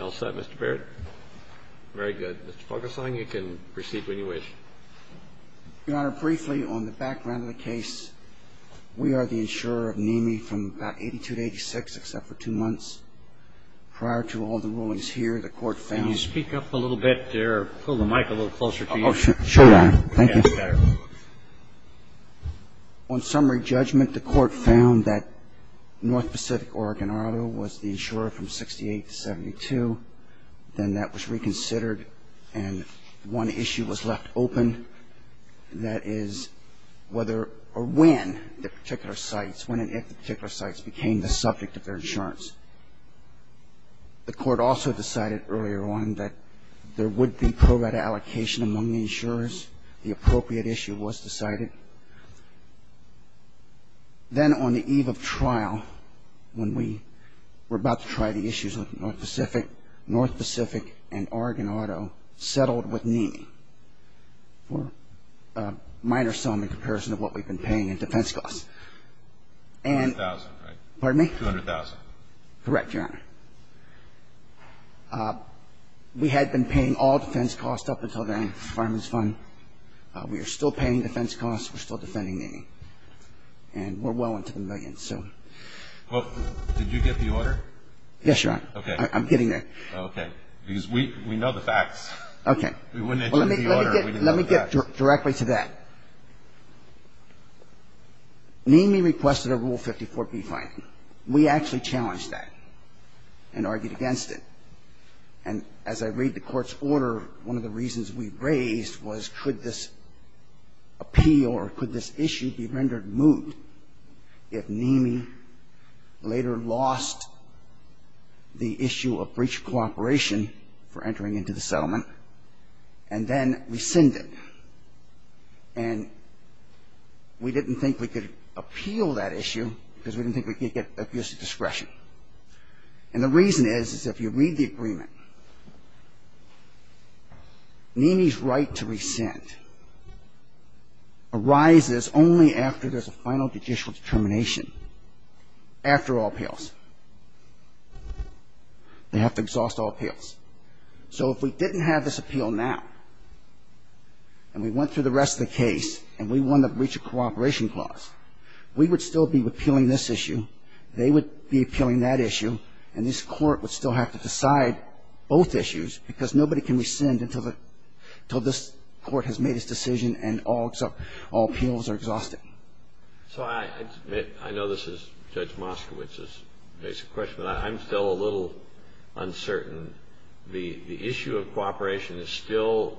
All set, Mr. Baird? Very good. Mr. Fuglesang, you can proceed when you wish. Your Honor, briefly on the background of the case, we are the insurer of Nimi from about 82 to 86, except for two months. Prior to all the rulings here, the Court found- Can you speak up a little bit there, pull the mic a little closer to you? On summary judgment, the Court found that North Pacific Oregon Auto was the insurer from 68 to 72. Then that was reconsidered, and one issue was left open, and that is whether or when the particular sites, when and if the particular sites became the subject of their insurance. The Court also decided earlier on that there would be pro rata allocation among the insurers. The appropriate issue was decided. Then on the eve of trial, when we were about to try the issues with North Pacific, North Pacific and Oregon Auto settled with Nimi for a minor sum in comparison to what we've been paying in defense costs. And- 200,000, right? Pardon me? 200,000. Correct, Your Honor. We had been paying all defense costs up until the end of the Farmers Fund. We are still paying defense costs. We're still defending Nimi, and we're well into the millions, so- Well, did you get the order? Yes, Your Honor. Okay. I'm getting there. Okay. Because we know the facts. Okay. We wouldn't- Let me get directly to that. Nimi requested a Rule 54b fine. We actually challenged that. And argued against it. And as I read the Court's order, one of the reasons we raised was could this appeal or could this issue be rendered moot if Nimi later lost the issue of breach of cooperation for entering into the settlement and then rescinded. And we didn't think we could appeal that issue because we didn't think we could get abuse of discretion. And the reason is, is if you read the agreement, Nimi's right to rescind arises only after there's a final judicial determination, after all appeals. They have to exhaust all appeals. So if we didn't have this appeal now and we went through the rest of the case and we won the breach of cooperation clause, we would still be appealing this issue. They would be appealing that issue. And this Court would still have to decide both issues because nobody can rescind until this Court has made its decision and all appeals are exhausted. So I know this is Judge Moskowitz's basic question, but I'm still a little uncertain. And the issue of cooperation is still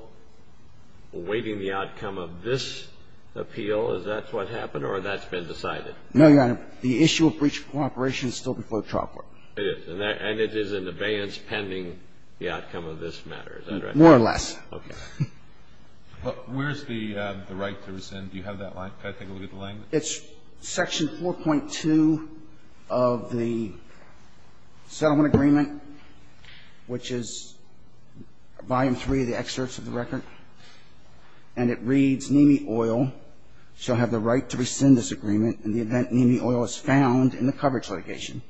awaiting the outcome of this appeal? Is that what happened or that's been decided? No, Your Honor. The issue of breach of cooperation is still before the trial court. It is. And it is in abeyance pending the outcome of this matter. Is that right? More or less. Okay. Where's the right to rescind? Do you have that line? Can I take a look at the line? It's section 4.2 of the settlement agreement, which is volume 3 of the excerpts of the record. And it reads, Nemi Oil shall have the right to rescind this agreement in the event Nemi Oil is found in the coverage litigation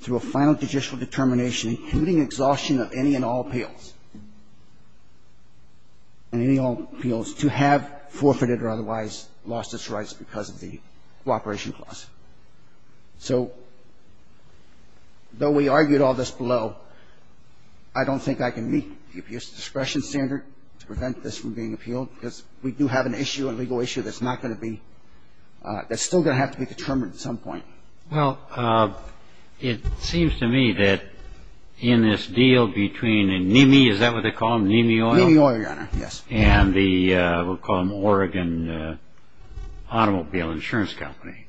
through a final judicial determination including exhaustion of any and all appeals. And any and all appeals to have forfeited or otherwise lost its rights because of the cooperation clause. So though we argued all this below, I don't think I can meet the appeals discretion standard to prevent this from being appealed because we do have an issue, a legal issue, that's not going to be, that's still going to have to be determined at some point. Well, it seems to me that in this deal between Nemi, is that what they call them? Nemi Oil? Nemi Oil, Your Honor. Yes. And the, we'll call them Oregon Automobile Insurance Company.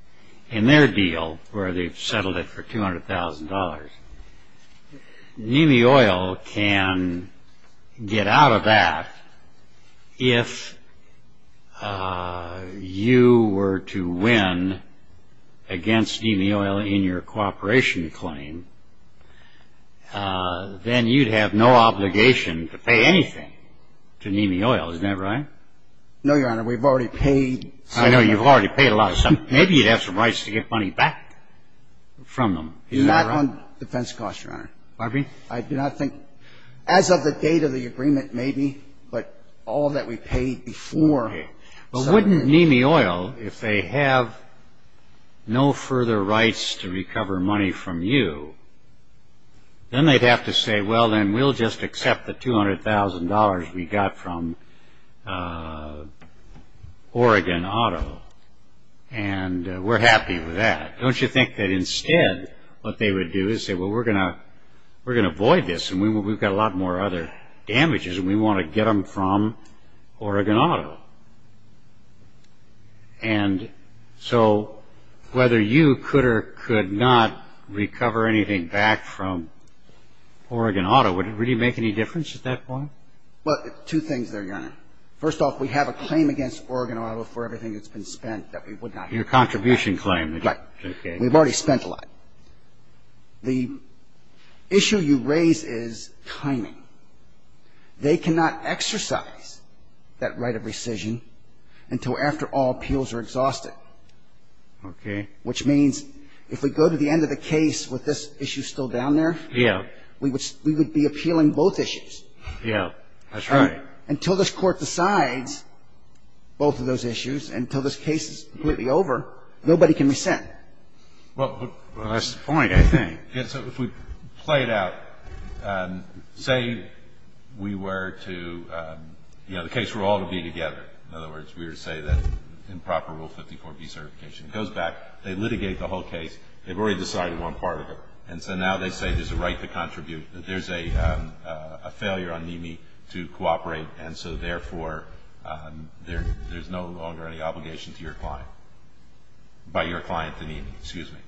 In their deal where they've settled it for $200,000, Nemi Oil can get out of that If you were to win against Nemi Oil in your cooperation claim, then you'd have no obligation to pay anything to Nemi Oil. Isn't that right? No, Your Honor. We've already paid. I know. You've already paid a lot of something. Maybe you'd have some rights to get money back from them. Not on defense costs, Your Honor. Pardon me? I do not think, as of the date of the agreement, maybe, but all that we paid before. Okay. But wouldn't Nemi Oil, if they have no further rights to recover money from you, then they'd have to say, well, then we'll just accept the $200,000 we got from Oregon Auto, and we're happy with that. Don't you think that instead what they would do is say, well, we're going to avoid this, and we've got a lot more other damages, and we want to get them from Oregon Auto? And so whether you could or could not recover anything back from Oregon Auto, would it really make any difference at that point? Well, two things there, Your Honor. First off, we have a claim against Oregon Auto for everything that's been spent that we would not recover back. Your contribution claim. Right. We've already spent a lot. The issue you raise is timing. They cannot exercise that right of rescission until, after all, appeals are exhausted. Okay. Which means if we go to the end of the case with this issue still down there, we would be appealing both issues. Yeah. That's right. Until this Court decides both of those issues, until this case is completely over, nobody can rescind. Well, that's the point, I think. Yeah. So if we play it out, say we were to, you know, the case were all to be together. In other words, we were to say that in proper Rule 54B certification. It goes back. They litigate the whole case. They've already decided one part of it. And so now they say there's a right to contribute, that there's a failure on NME to cooperate, and so therefore there's no longer any obligation to your client. By your client, the NME, excuse me.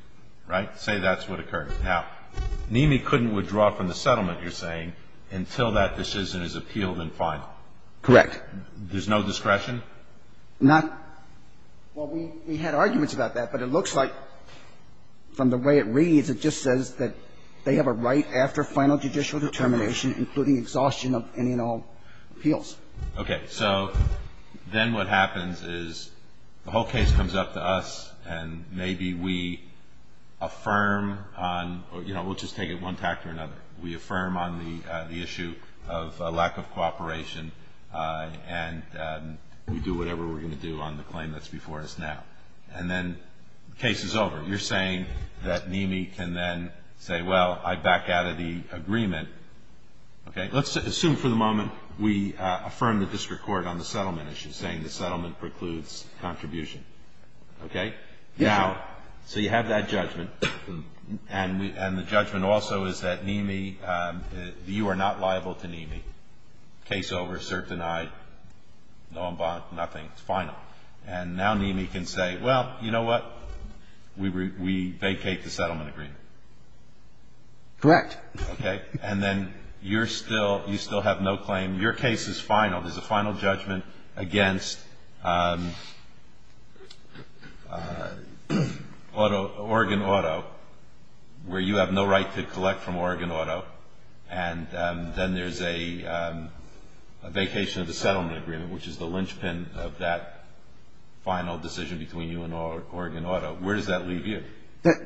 Right? Say that's what occurred. Now, NME couldn't withdraw from the settlement, you're saying, until that decision is appealed in final. Correct. There's no discretion? Not – well, we had arguments about that, but it looks like from the way it reads, it just says that they have a right after final judicial determination, including exhaustion of any and all appeals. Okay. So then what happens is the whole case comes up to us, and maybe we affirm on – you know, we'll just take it one tact or another. We affirm on the issue of lack of cooperation, and we do whatever we're going to do on the claim that's before us now. And then the case is over. You're saying that NME can then say, well, I back out of the agreement. Okay. Let's assume for the moment we affirm the district court on the settlement issue, saying the settlement precludes contribution. Okay? Now, so you have that judgment, and the judgment also is that NME – you are not liable to NME. Case over, cert denied, no involvement, nothing. It's final. And now NME can say, well, you know what, we vacate the settlement agreement. Correct. Okay. And then you're still – you still have no claim. Your case is final. There's a final judgment against Oregon Auto, where you have no right to collect from Oregon Auto, and then there's a vacation of the settlement agreement, which is the linchpin of that final decision between you and Oregon Auto.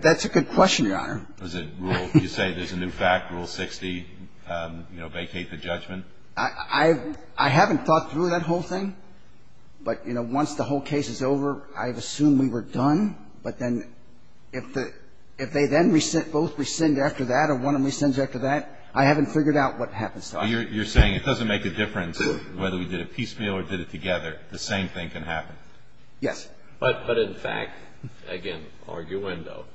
That's a good question, Your Honor. Does it rule – you say there's a new fact, Rule 60, you know, vacate the judgment? I haven't thought through that whole thing, but, you know, once the whole case is over, I've assumed we were done. But then if they then both rescind after that or one of them rescinds after that, I haven't figured out what happens to us. You're saying it doesn't make a difference whether we did it piecemeal or did it together. The same thing can happen. Yes. But in fact, again, arguendo,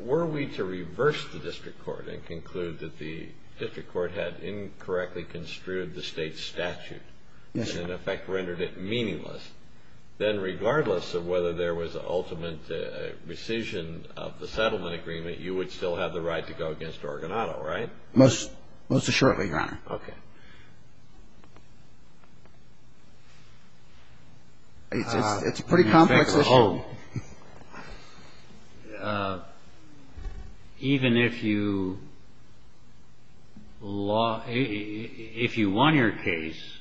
were we to reverse the district court and conclude that the district court had incorrectly construed the State statute and, in effect, rendered it meaningless, then regardless of whether there was an ultimate rescission of the settlement agreement, you would still have the right to go against Oregon Auto, right? Most assuredly, Your Honor. Okay. It's a pretty complex issue. In effect, even if you won your case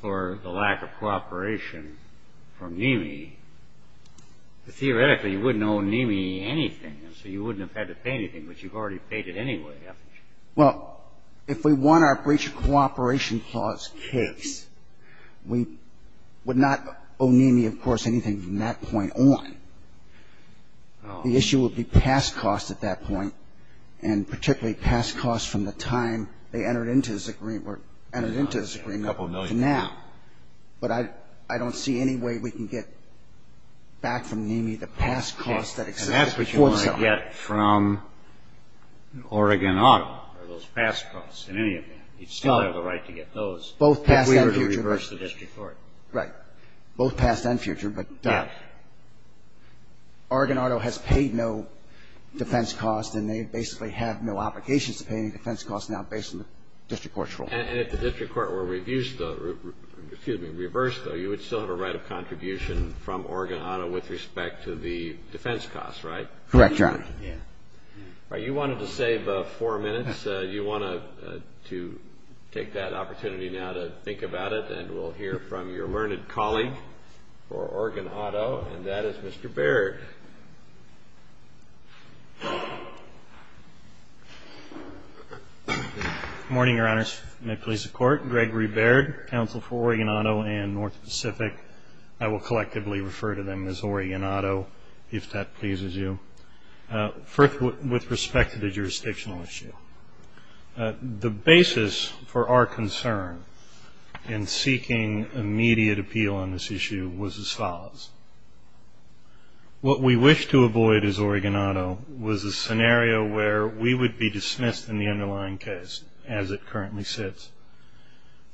for the lack of cooperation from NIMI, theoretically, you wouldn't owe NIMI anything, so you wouldn't have had to pay anything, but you've already paid it anyway, haven't you? Well, if we won our breach of cooperation clause case, we would not owe NIMI, of course, anything from that point on. The issue would be past costs at that point and particularly past costs from the time they entered into this agreement to now. But I don't see any way we can get back from NIMI the past costs that existed before the settlement. We can't get from Oregon Auto or those past costs in any event. You'd still have the right to get those if we were to reverse the district court. Right. Both past and future, but Oregon Auto has paid no defense costs and they basically have no obligations to pay any defense costs now based on the district court's ruling. And if the district court were reviewed, excuse me, reversed, though, you would still have a right of contribution from Oregon Auto with respect to the defense costs, right? Correct, Your Honor. Yeah. All right. You wanted to save four minutes. You want to take that opportunity now to think about it, and we'll hear from your learned colleague for Oregon Auto, and that is Mr. Baird. Good morning, Your Honors. May it please the Court, Gregory Baird, counsel for Oregon Auto and North Pacific. I will collectively refer to them as Oregon Auto if that pleases you. First, with respect to the jurisdictional issue, the basis for our concern in seeking immediate appeal on this issue was as follows. What we wished to avoid as Oregon Auto was a scenario where we would be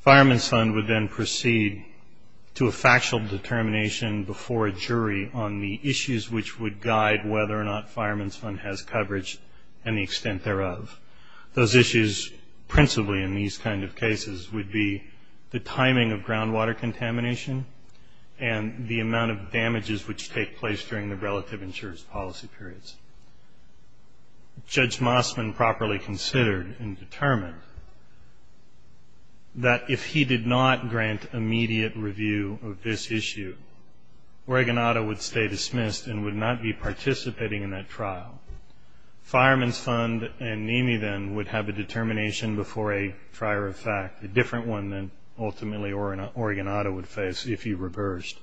Fireman's Fund would then proceed to a factual determination before a jury on the issues which would guide whether or not Fireman's Fund has coverage and the extent thereof. Those issues principally in these kind of cases would be the timing of groundwater contamination and the amount of damages which take place during the relative insurance policy periods. Judge Mossman properly considered and determined that if he did not grant immediate review of this issue, Oregon Auto would stay dismissed and would not be participating in that trial. Fireman's Fund and NAMI then would have a determination before a trier of fact, a different one than ultimately Oregon Auto would face if he reversed,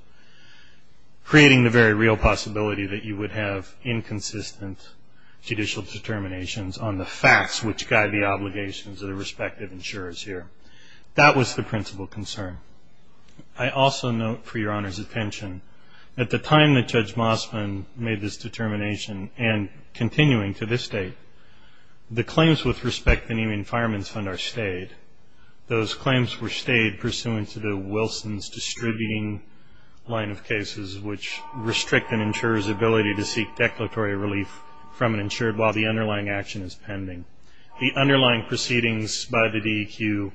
creating the very real possibility that you would have inconsistent judicial determinations on the facts which guide the obligations of the respective insurers here. That was the principal concern. I also note for your Honor's attention, at the time that Judge Mossman made this determination and continuing to this date, the claims with respect to NAMI and Fireman's Fund are stayed. Those claims were stayed pursuant to the Wilson's distributing line of cases which restrict an insurer's ability to seek declaratory relief from an insured while the underlying action is pending. The underlying proceedings by the DEQ,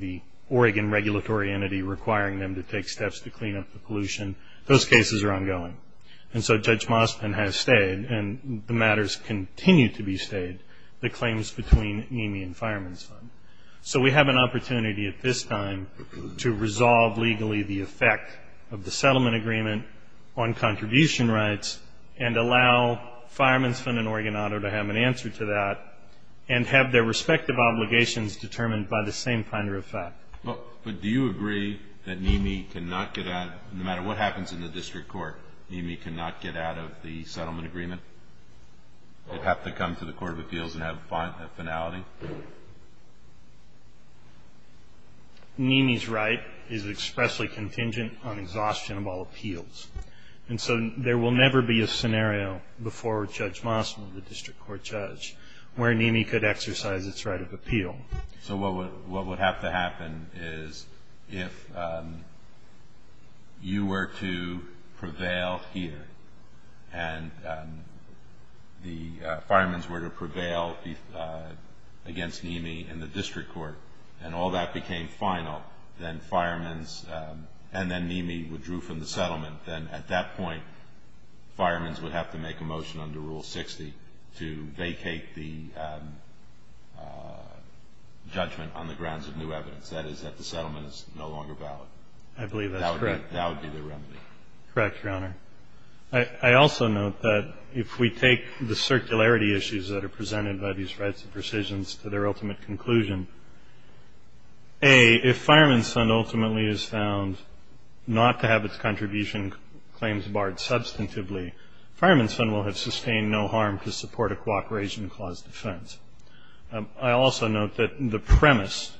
the Oregon regulatory entity requiring them to take steps to clean up the pollution, those cases are ongoing. And so Judge Mossman has stayed and the matters continue to be stayed, the claims between NAMI and Fireman's Fund. So we have an opportunity at this time to resolve legally the effect of the non-contribution rights and allow Fireman's Fund and Oregon Auto to have an answer to that and have their respective obligations determined by the same ponder of fact. But do you agree that NAMI cannot get out, no matter what happens in the district court, NAMI cannot get out of the settlement agreement? It would have to come to the Court of Appeals and have a finality? NAMI's right is expressly contingent on exhaustion of all appeals. And so there will never be a scenario before Judge Mossman, the district court judge, where NAMI could exercise its right of appeal. So what would have to happen is if you were to prevail here and the firemen's were to prevail against NAMI in the district court and all that became final, then firemen's and then NAMI withdrew from the settlement, then at that point firemen's would have to make a motion under Rule 60 to vacate the judgment on the grounds of new evidence. That is that the settlement is no longer valid. I believe that's correct. That would be the remedy. Correct, Your Honor. I also note that if we take the circularity issues that are presented by these rights of rescissions to their ultimate conclusion, A, if firemen's fund ultimately is found not to have its contribution claims barred substantively, firemen's fund will have sustained no harm to support a cooperation clause defense. I also note that the premise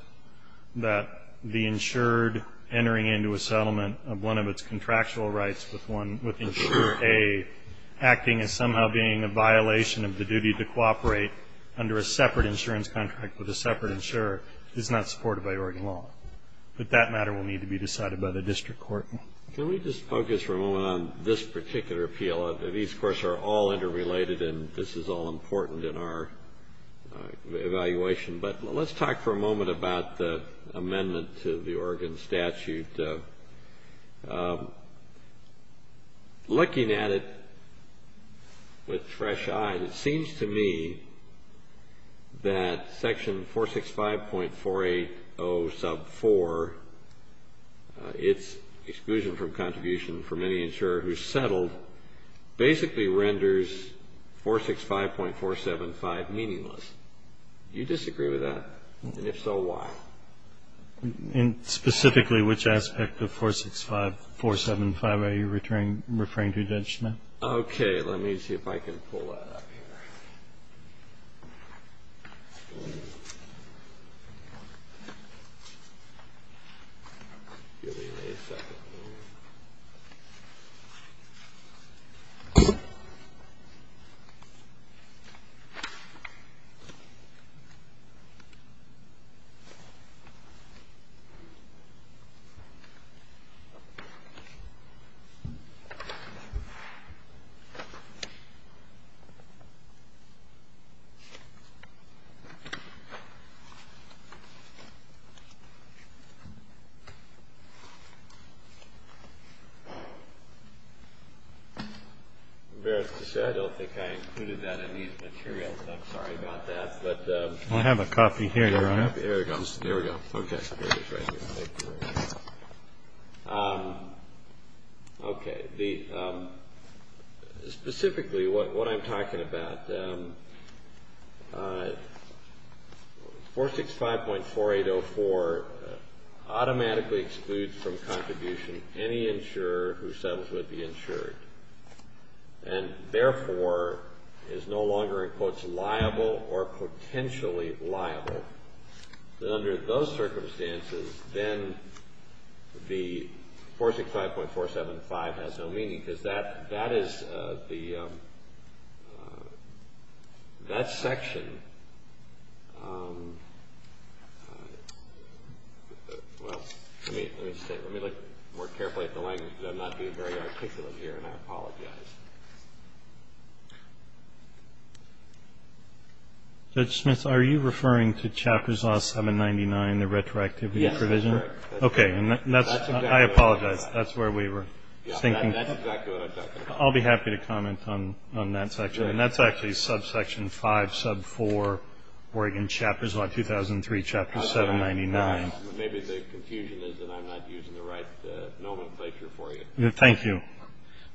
that the insured entering into a settlement of one of its contractual rights with insured A acting as somehow being a violation of the duty to cooperate under a separate insurance contract with a separate insurer is not supported by Oregon law. But that matter will need to be decided by the district court. Can we just focus for a moment on this particular appeal? These, of course, are all interrelated and this is all important in our evaluation. But let's talk for a moment about the amendment to the Oregon statute. Looking at it with fresh eyes, it seems to me that section 465.480 sub 4, its exclusion from contribution for many insurer who settled, basically renders 465.475 meaningless. Do you disagree with that? And if so, why? And specifically, which aspect of 465.475 are you referring to, Judge Schmidt? Okay. Let me see if I can pull that up here. Okay. I'm embarrassed to say I don't think I included that in these materials. I'm sorry about that. I have a copy here. There we go. Okay. Okay. Specifically, what I'm talking about, 465.4804 automatically excludes from contribution any insurer who settles with the insured and therefore is no longer in quotes liable or potentially liable. So under those circumstances, then the 465.475 has no meaning because that is the, that section, well, let me look more carefully at the language because I'm not being very articulate here and I apologize. Judge Schmidt, are you referring to Chapters Law 799, the retroactivity provision? Yes, that's correct. Okay. I apologize. That's where we were thinking. That's exactly what I was talking about. I'll be happy to comment on that section. And that's actually subsection 5, sub 4, Oregon Chapters Law 2003, Chapter 799. Maybe the confusion is that I'm not using the right nomenclature for you. Thank you.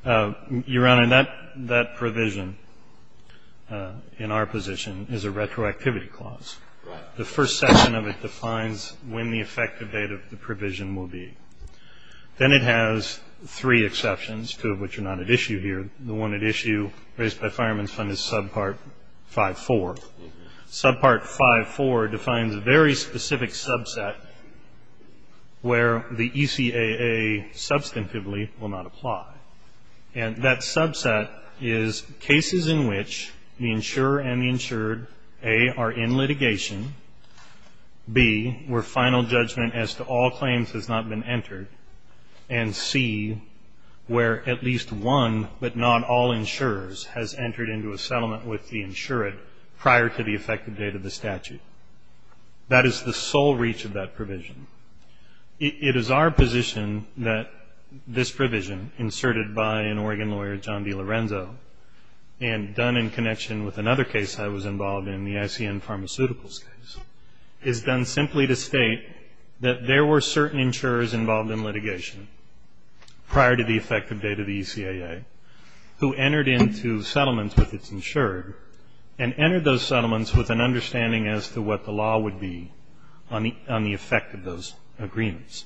Your Honor, that provision in our position is a retroactivity clause. Right. The first section of it defines when the effective date of the provision will be. Then it has three exceptions, two of which are not at issue here. The one at issue raised by Fireman's Fund is Subpart 5.4. Subpart 5.4 defines a very specific subset where the ECAA substantively will not apply. And that subset is cases in which the insurer and the insured, A, are in litigation, B, where final judgment as to all claims has not been entered, and C, where at least one but not all insurers has entered into a settlement with the insured prior to the effective date of the statute. That is the sole reach of that provision. It is our position that this provision, inserted by an Oregon lawyer, John DiLorenzo, and done in connection with another case I was involved in, the ICN Pharmaceuticals case, is done simply to state that there were certain insurers involved in litigation prior to the effective date of the ECAA who entered into settlements with its insured and entered those settlements with an understanding as to what the law would be on the effect of those agreements.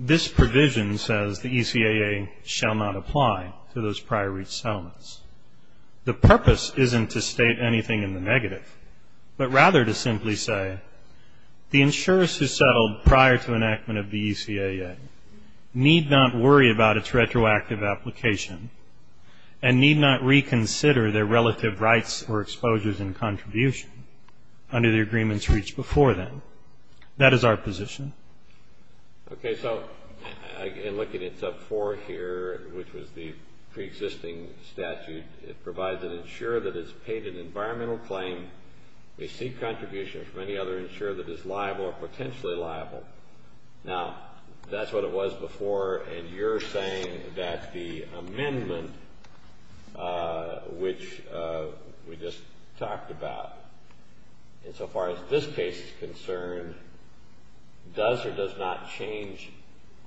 This provision says the ECAA shall not apply to those prior reach settlements. The purpose isn't to state anything in the negative, but rather to simply say, the insurers who settled prior to enactment of the ECAA need not worry about its retroactive application and need not reconsider their relative rights or exposures in contribution under the agreements reached before then. That is our position. Okay. So I'm looking at sub 4 here, which was the preexisting statute. It provides an insurer that has paid an environmental claim, received contribution from any other insurer that is liable or potentially liable. Now, that's what it was before, and you're saying that the amendment, which we just talked about, and so far as this case is concerned, does or does not change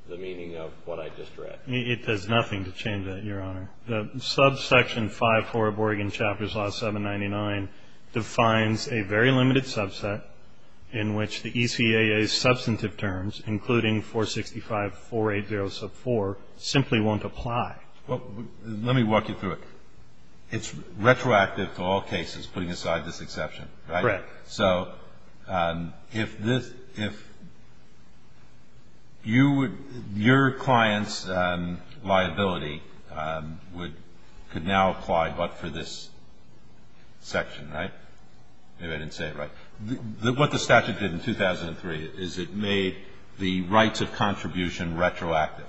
the meaning of what I just read. It does nothing to change that, Your Honor. The subsection 5.4 of Oregon Chapter's Law 799 defines a very limited subset in which the ECAA's substantive terms, including 465.480 sub 4, simply won't apply. Well, let me walk you through it. It's retroactive to all cases, putting aside this exception, right? Correct. So if your client's liability could now apply but for this section, right? Maybe I didn't say it right. What the statute did in 2003 is it made the rights of contribution retroactive.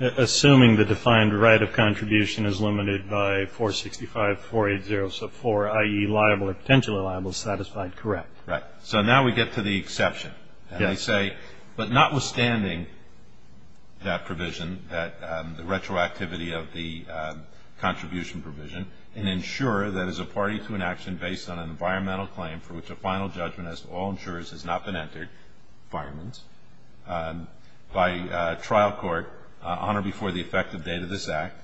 Assuming the defined right of contribution is limited by 465.480 sub 4, i.e., liable or potentially liable, satisfied, correct. Right. So now we get to the exception. And I say, but notwithstanding that provision, the retroactivity of the contribution provision, an insurer that is a party to an action based on an environmental claim for which a final judgment as to all insurers has not been entered, fireman's, by trial court on or before the effective date of this act,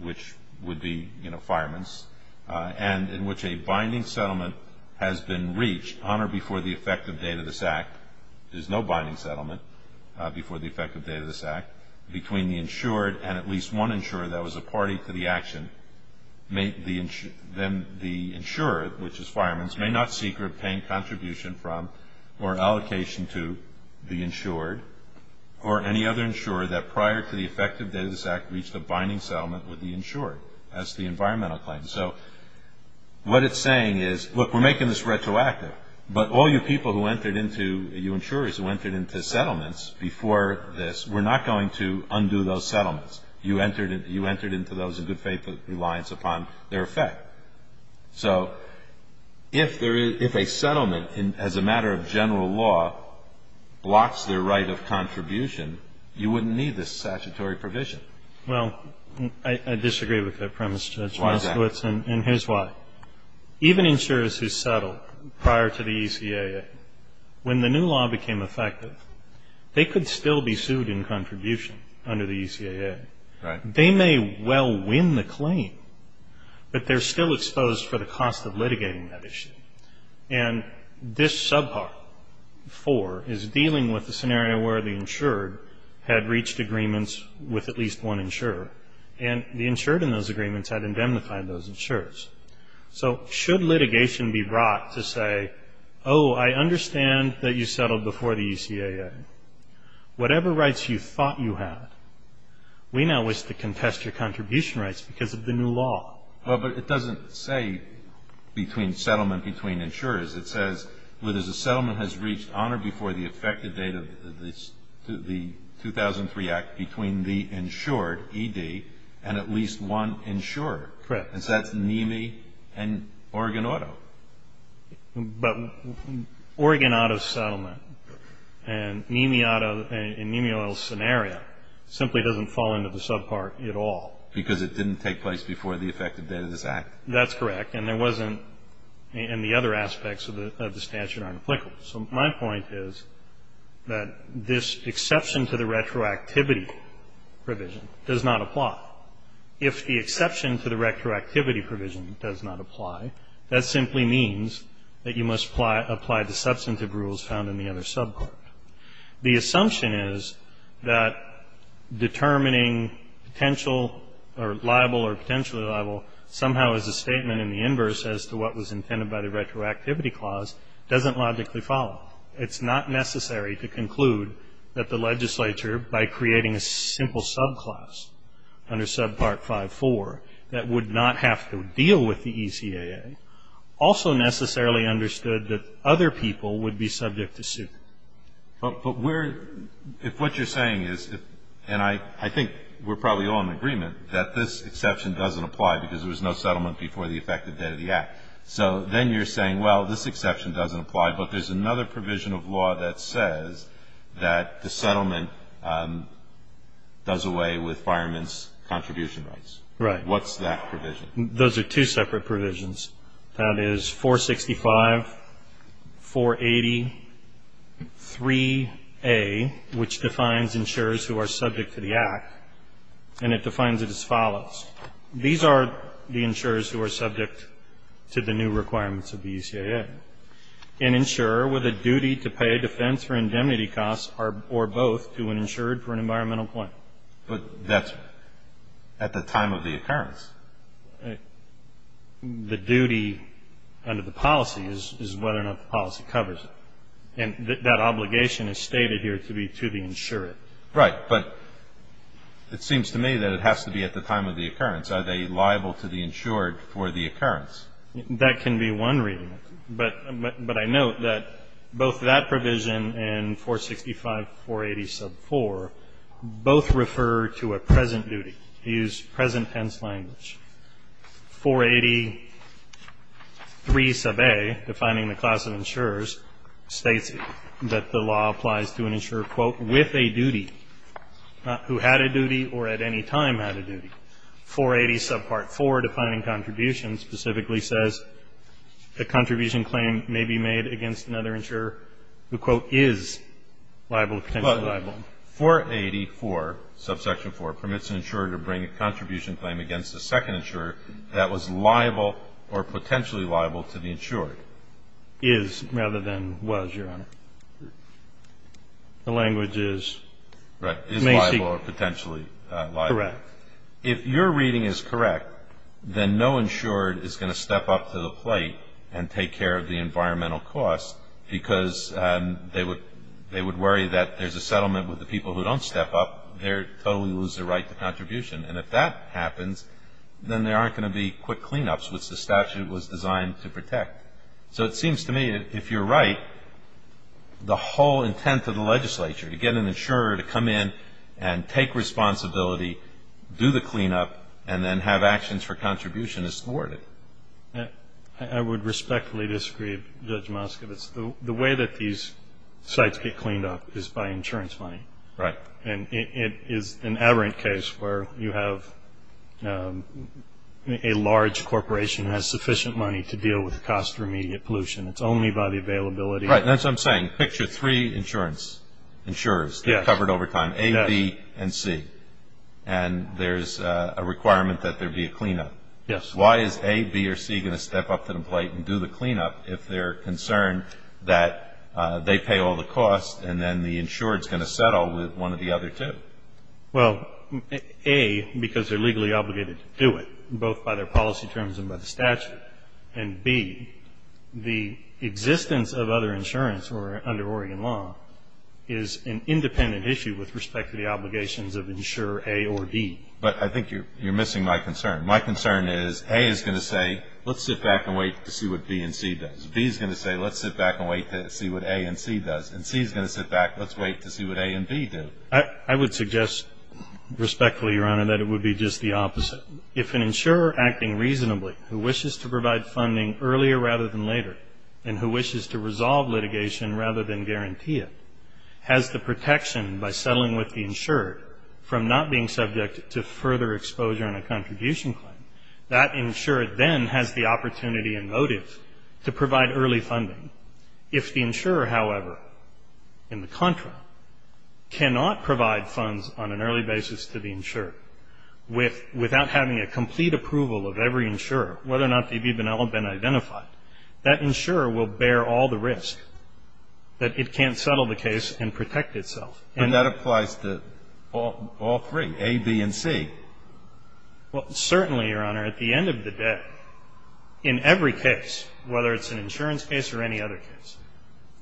which would be, you know, fireman's, and in which a binding settlement has been reached on or before the effective date of this act, which is no binding settlement, before the effective date of this act, between the insured and at least one insurer that was a party to the action, then the insurer, which is fireman's, may not seek or obtain contribution from or allocation to the insured or any other insurer that prior to the effective date of this act reached a binding settlement with the insured as to the environmental claim. And so what it's saying is, look, we're making this retroactive, but all you people who entered into, you insurers who entered into settlements before this, we're not going to undo those settlements. You entered into those in good faith reliance upon their effect. So if a settlement as a matter of general law blocks their right of contribution, you wouldn't need this statutory provision. Well, I disagree with that premise, Judge. And here's why. Even insurers who settled prior to the ECAA, when the new law became effective, they could still be sued in contribution under the ECAA. They may well win the claim, but they're still exposed for the cost of litigating that issue. And this subpart four is dealing with the scenario where the insured had reached agreements with at least one insurer, and the insured in those agreements had indemnified those insurers. So should litigation be brought to say, oh, I understand that you settled before the ECAA. Whatever rights you thought you had, we now wish to contest your contribution rights because of the new law. Well, but it doesn't say between settlement, between insurers. It says whether the settlement has reached on or before the effective date of the 2003 Act between the insured, ED, and at least one insurer. Correct. And so that's NEMI and Oregon Auto. But Oregon Auto's settlement and NEMI Auto and NEMI Oil's scenario simply doesn't fall into the subpart at all. Because it didn't take place before the effective date of this Act. That's correct. And there wasn't, and the other aspects of the statute aren't applicable. So my point is that this exception to the retroactivity provision does not apply. If the exception to the retroactivity provision does not apply, that simply means that you must apply the substantive rules found in the other subpart. The assumption is that determining potential or liable or potentially liable somehow as a statement in the inverse as to what was intended by the retroactivity clause doesn't logically follow. It's not necessary to conclude that the legislature, by creating a simple subclass under subpart 5-4 that would not have to deal with the ECAA, also necessarily understood that other people would be subject to suit. But we're, if what you're saying is, and I think we're probably all in agreement, that this exception doesn't apply because there was no settlement before the effective date of the Act. So then you're saying, well, this exception doesn't apply, but there's another provision of law that says that the settlement does away with fireman's contribution rights. Right. What's that provision? Those are two separate provisions. That is 465, 480, 3A, which defines insurers who are subject to the Act, and it defines it as follows. These are the insurers who are subject to the new requirements of the ECAA. An insurer with a duty to pay a defense or indemnity cost or both to an insurer for an environmental point. But that's at the time of the occurrence. The duty under the policy is whether or not the policy covers it. And that obligation is stated here to be to the insurer. Right. But it seems to me that it has to be at the time of the occurrence. Are they liable to the insured for the occurrence? That can be one reading. But I note that both that provision and 465, 480, sub 4 both refer to a present duty. They use present tense language. 480, 3, sub A, defining the class of insurers, states that the law applies to an insurer, quote, with a duty, not who had a duty or at any time had a duty. 480, sub part 4, defining contributions, specifically says a contribution claim may be made against another insurer who, quote, is liable, potentially liable. 480, 4, subsection 4, permits an insurer to bring a contribution claim against a second insurer that was liable or potentially liable to the insured. Is rather than was, Your Honor. The language is. Is liable or potentially liable. Correct. If your reading is correct, then no insured is going to step up to the plate and take care of the environmental cost because they would worry that there's a settlement with the people who don't step up. They totally lose their right to contribution. And if that happens, then there aren't going to be quick cleanups, which the statute was designed to protect. So it seems to me that if you're right, the whole intent of the legislature, to get an insurer to come in and take responsibility, do the cleanup, and then have actions for contribution is thwarted. I would respectfully disagree, Judge Moskowitz. The way that these sites get cleaned up is by insurance money. Right. And it is an aberrant case where you have a large corporation that has sufficient money to deal with the cost of immediate pollution. It's only by the availability. Right. That's what I'm saying. Picture three insurers covered over time, A, B, and C. And there's a requirement that there be a cleanup. Yes. Why is A, B, or C going to step up to the plate and do the cleanup if they're concerned that they pay all the costs and then the insurer is going to settle with one of the other two? Well, A, because they're legally obligated to do it, both by their policy terms and by the statute. And B, the existence of other insurance under Oregon law is an independent issue with respect to the obligations of insurer A or D. But I think you're missing my concern. My concern is A is going to say, let's sit back and wait to see what B and C does. B is going to say, let's sit back and wait to see what A and C does. And C is going to sit back, let's wait to see what A and B do. I would suggest respectfully, Your Honor, that it would be just the opposite. If an insurer acting reasonably who wishes to provide funding earlier rather than later and who wishes to resolve litigation rather than guarantee it has the protection by settling with the insured from not being subject to further exposure in a contribution claim, that insured then has the opportunity and motive to provide early funding. If the insurer, however, in the contra cannot provide funds on an early basis to the insured without having a complete approval of every insurer, whether or not they've even all been identified, that insurer will bear all the risk that it can't settle the case and protect itself. And that applies to all three, A, B, and C. Well, certainly, Your Honor. At the end of the day, in every case, whether it's an insurance case or any other case,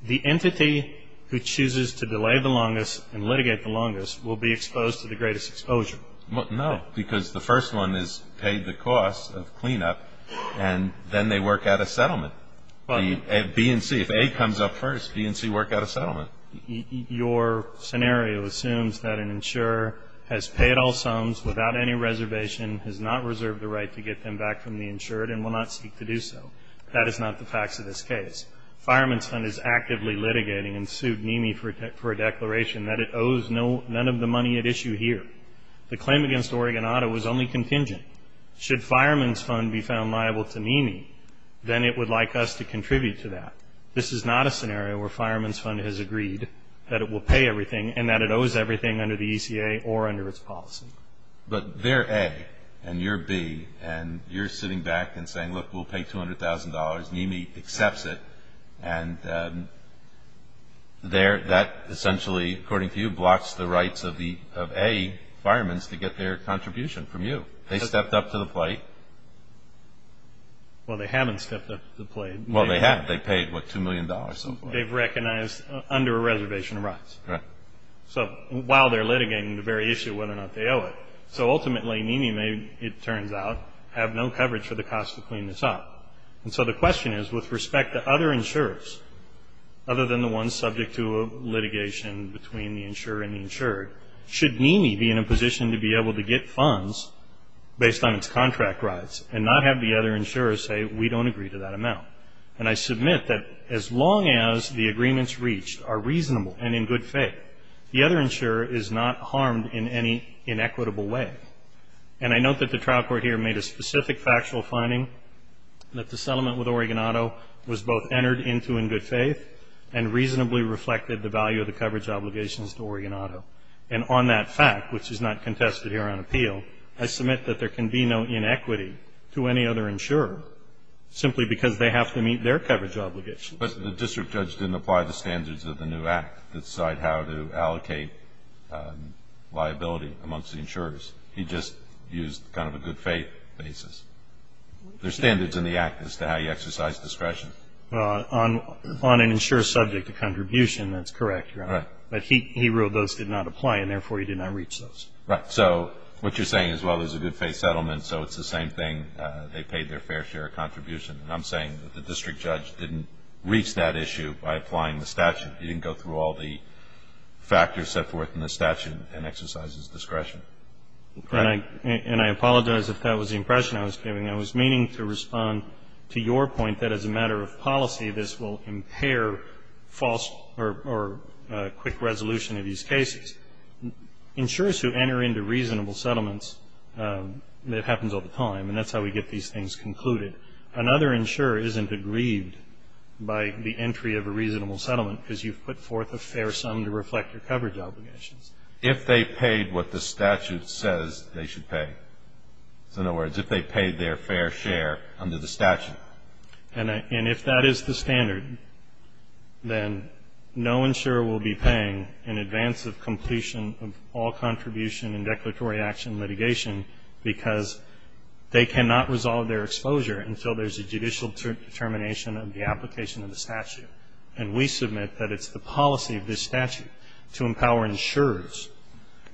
the entity who chooses to delay the longest and litigate the longest will be exposed to the greatest exposure. No, because the first one is paid the cost of cleanup, and then they work out a settlement. B and C, if A comes up first, B and C work out a settlement. Your scenario assumes that an insurer has paid all sums without any reservation, has not reserved the right to get them back from the insured, and will not seek to do so. That is not the facts of this case. Fireman's Fund is actively litigating and sued NEMI for a declaration that it owes none of the money at issue here. The claim against Oregon Auto was only contingent. Should Fireman's Fund be found liable to NEMI, then it would like us to contribute to that. This is not a scenario where Fireman's Fund has agreed that it will pay everything and that it owes everything under the ECA or under its policy. But they're A, and you're B, and you're sitting back and saying, look, we'll pay $200,000. NEMI accepts it, and that essentially, according to you, blocks the rights of A, firemen's, to get their contribution from you. They stepped up to the plate. Well, they haven't stepped up to the plate. Well, they haven't. They paid, what, $2 million or so. They've recognized under a reservation of rights. Right. So while they're litigating the very issue of whether or not they owe it. So ultimately, NEMI, it turns out, have no coverage for the cost to clean this up. And so the question is, with respect to other insurers, other than the ones subject to litigation between the insurer and the insured, should NEMI be in a position to be able to get funds based on its contract rights and not have the other insurers say, we don't agree to that amount? And I submit that as long as the agreements reached are reasonable and in good faith, the other insurer is not harmed in any inequitable way. And I note that the trial court here made a specific factual finding that the settlement with Oregon Auto was both entered into in good faith and reasonably reflected the value of the coverage obligations to Oregon Auto. I submit that there can be no inequity to any other insurer, simply because they have to meet their coverage obligations. But the district judge didn't apply the standards of the new act to decide how to allocate liability amongst the insurers. He just used kind of a good faith basis. There are standards in the act as to how you exercise discretion. On an insurer subject to contribution, that's correct, Your Honor. Right. But he ruled those did not apply, and therefore he did not reach those. Right. So what you're saying is, well, there's a good faith settlement, so it's the same thing, they paid their fair share of contribution. And I'm saying that the district judge didn't reach that issue by applying the statute. He didn't go through all the factors set forth in the statute and exercise his discretion. And I apologize if that was the impression I was giving. I was meaning to respond to your point that as a matter of policy, this will impair false or quick resolution of these cases. Insurers who enter into reasonable settlements, it happens all the time, and that's how we get these things concluded. Another insurer isn't aggrieved by the entry of a reasonable settlement because you've put forth a fair sum to reflect your coverage obligations. If they paid what the statute says they should pay. So in other words, if they paid their fair share under the statute. And if that is the standard, then no insurer will be paying in advance of completion of all contribution and declaratory action litigation because they cannot resolve their exposure until there's a judicial determination of the application of the statute. And we submit that it's the policy of this statute to empower insurers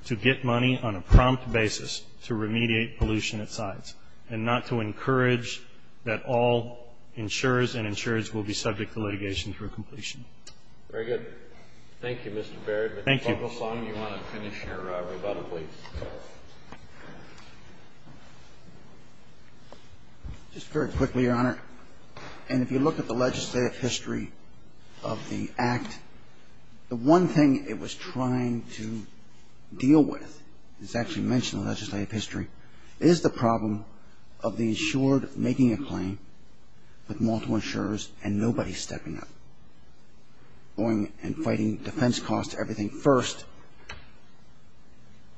to get money on a prompt basis to remediate pollution at sites and not to encourage that all insurers and insurers will be subject to litigation through completion. Very good. Thank you, Mr. Baird. Thank you. If you want to finish your rebuttal, please. Just very quickly, Your Honor. And if you look at the legislative history of the Act, the one thing it was trying to deal with, it's actually mentioned in the legislative history, is the problem of the insured making a claim with multiple insurers and nobody stepping up, going and fighting defense costs, everything. First,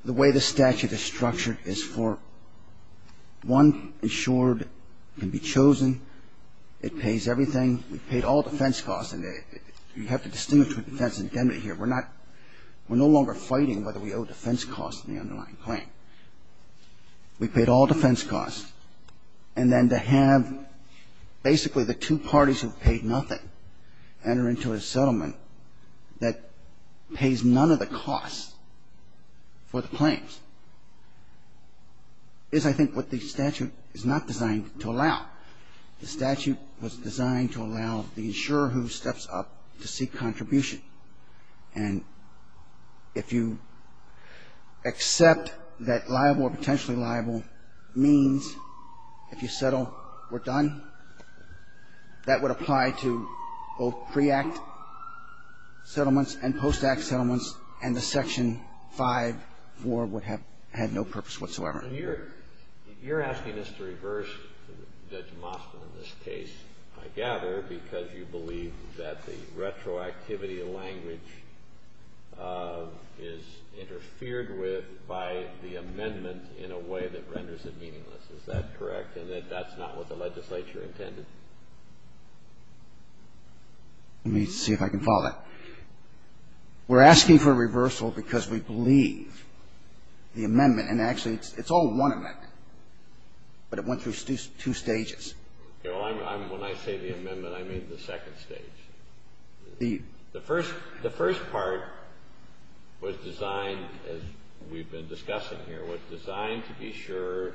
the way the statute is structured is for one insured can be chosen. It pays everything. We've paid all defense costs, and you have to distinguish between defense and indemnity here. We're no longer fighting whether we owe defense costs in the underlying claim. We've paid all defense costs. And then to have basically the two parties who've paid nothing enter into a settlement that pays none of the costs for the claims is, I think, what the statute is not designed to allow. The statute was designed to allow the insurer who steps up to seek contribution and if you accept that liable or potentially liable means, if you settle, we're done, that would apply to both pre-Act settlements and post-Act settlements, and the Section 5.4 would have had no purpose whatsoever. You're asking us to reverse Judge Moskvin in this case, I gather, because you believe that the retroactivity of language is interfered with by the amendment in a way that renders it meaningless. Is that correct? And that that's not what the legislature intended? Let me see if I can follow that. We're asking for a reversal because we believe the amendment, and actually it's all one amendment, but it went through two stages. When I say the amendment, I mean the second stage. The first part was designed, as we've been discussing here, was designed to be sure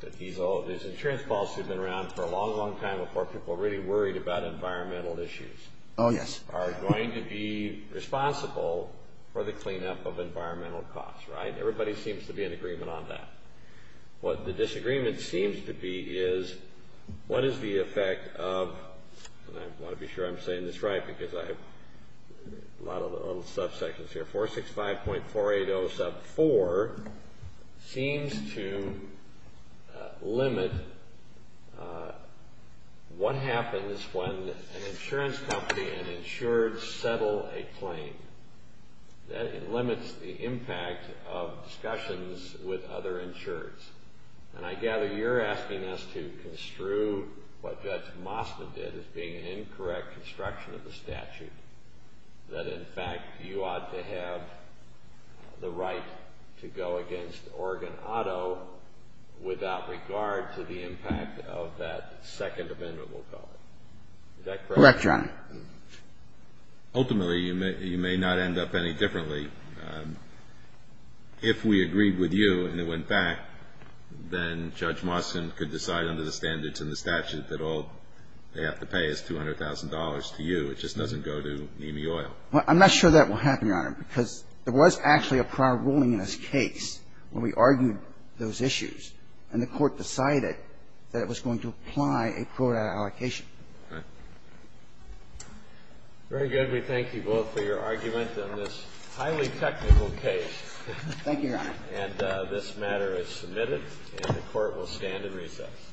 that these insurance policies had been around for a long, long time before people were really worried about environmental issues, are going to be responsible for the cleanup of environmental costs, right? Everybody seems to be in agreement on that. What the disagreement seems to be is what is the effect of, and I want to be sure I'm saying this right because I have a lot of little subsections here, 465.480 sub 4 seems to limit what happens when an insurance company and insurers settle a claim. It limits the impact of discussions with other insurers. And I gather you're asking us to construe what Judge Masta did as being an incorrect construction of the statute, that in fact you ought to have the right to go against Oregon Auto without regard to the impact of that second amendment, we'll call it. Is that correct? Correct, Your Honor. Ultimately, you may not end up any differently. If we agreed with you and it went back, then Judge Mastin could decide under the standards and the statute that all they have to pay is $200,000 to you. It just doesn't go to EMEI Oil. Well, I'm not sure that will happen, Your Honor, because there was actually a prior ruling in this case when we argued those issues, and the Court decided that it was going to apply a quota allocation. All right. Very good. We thank you both for your argument in this highly technical case. Thank you, Your Honor. And this matter is submitted, and the Court will stand at recess.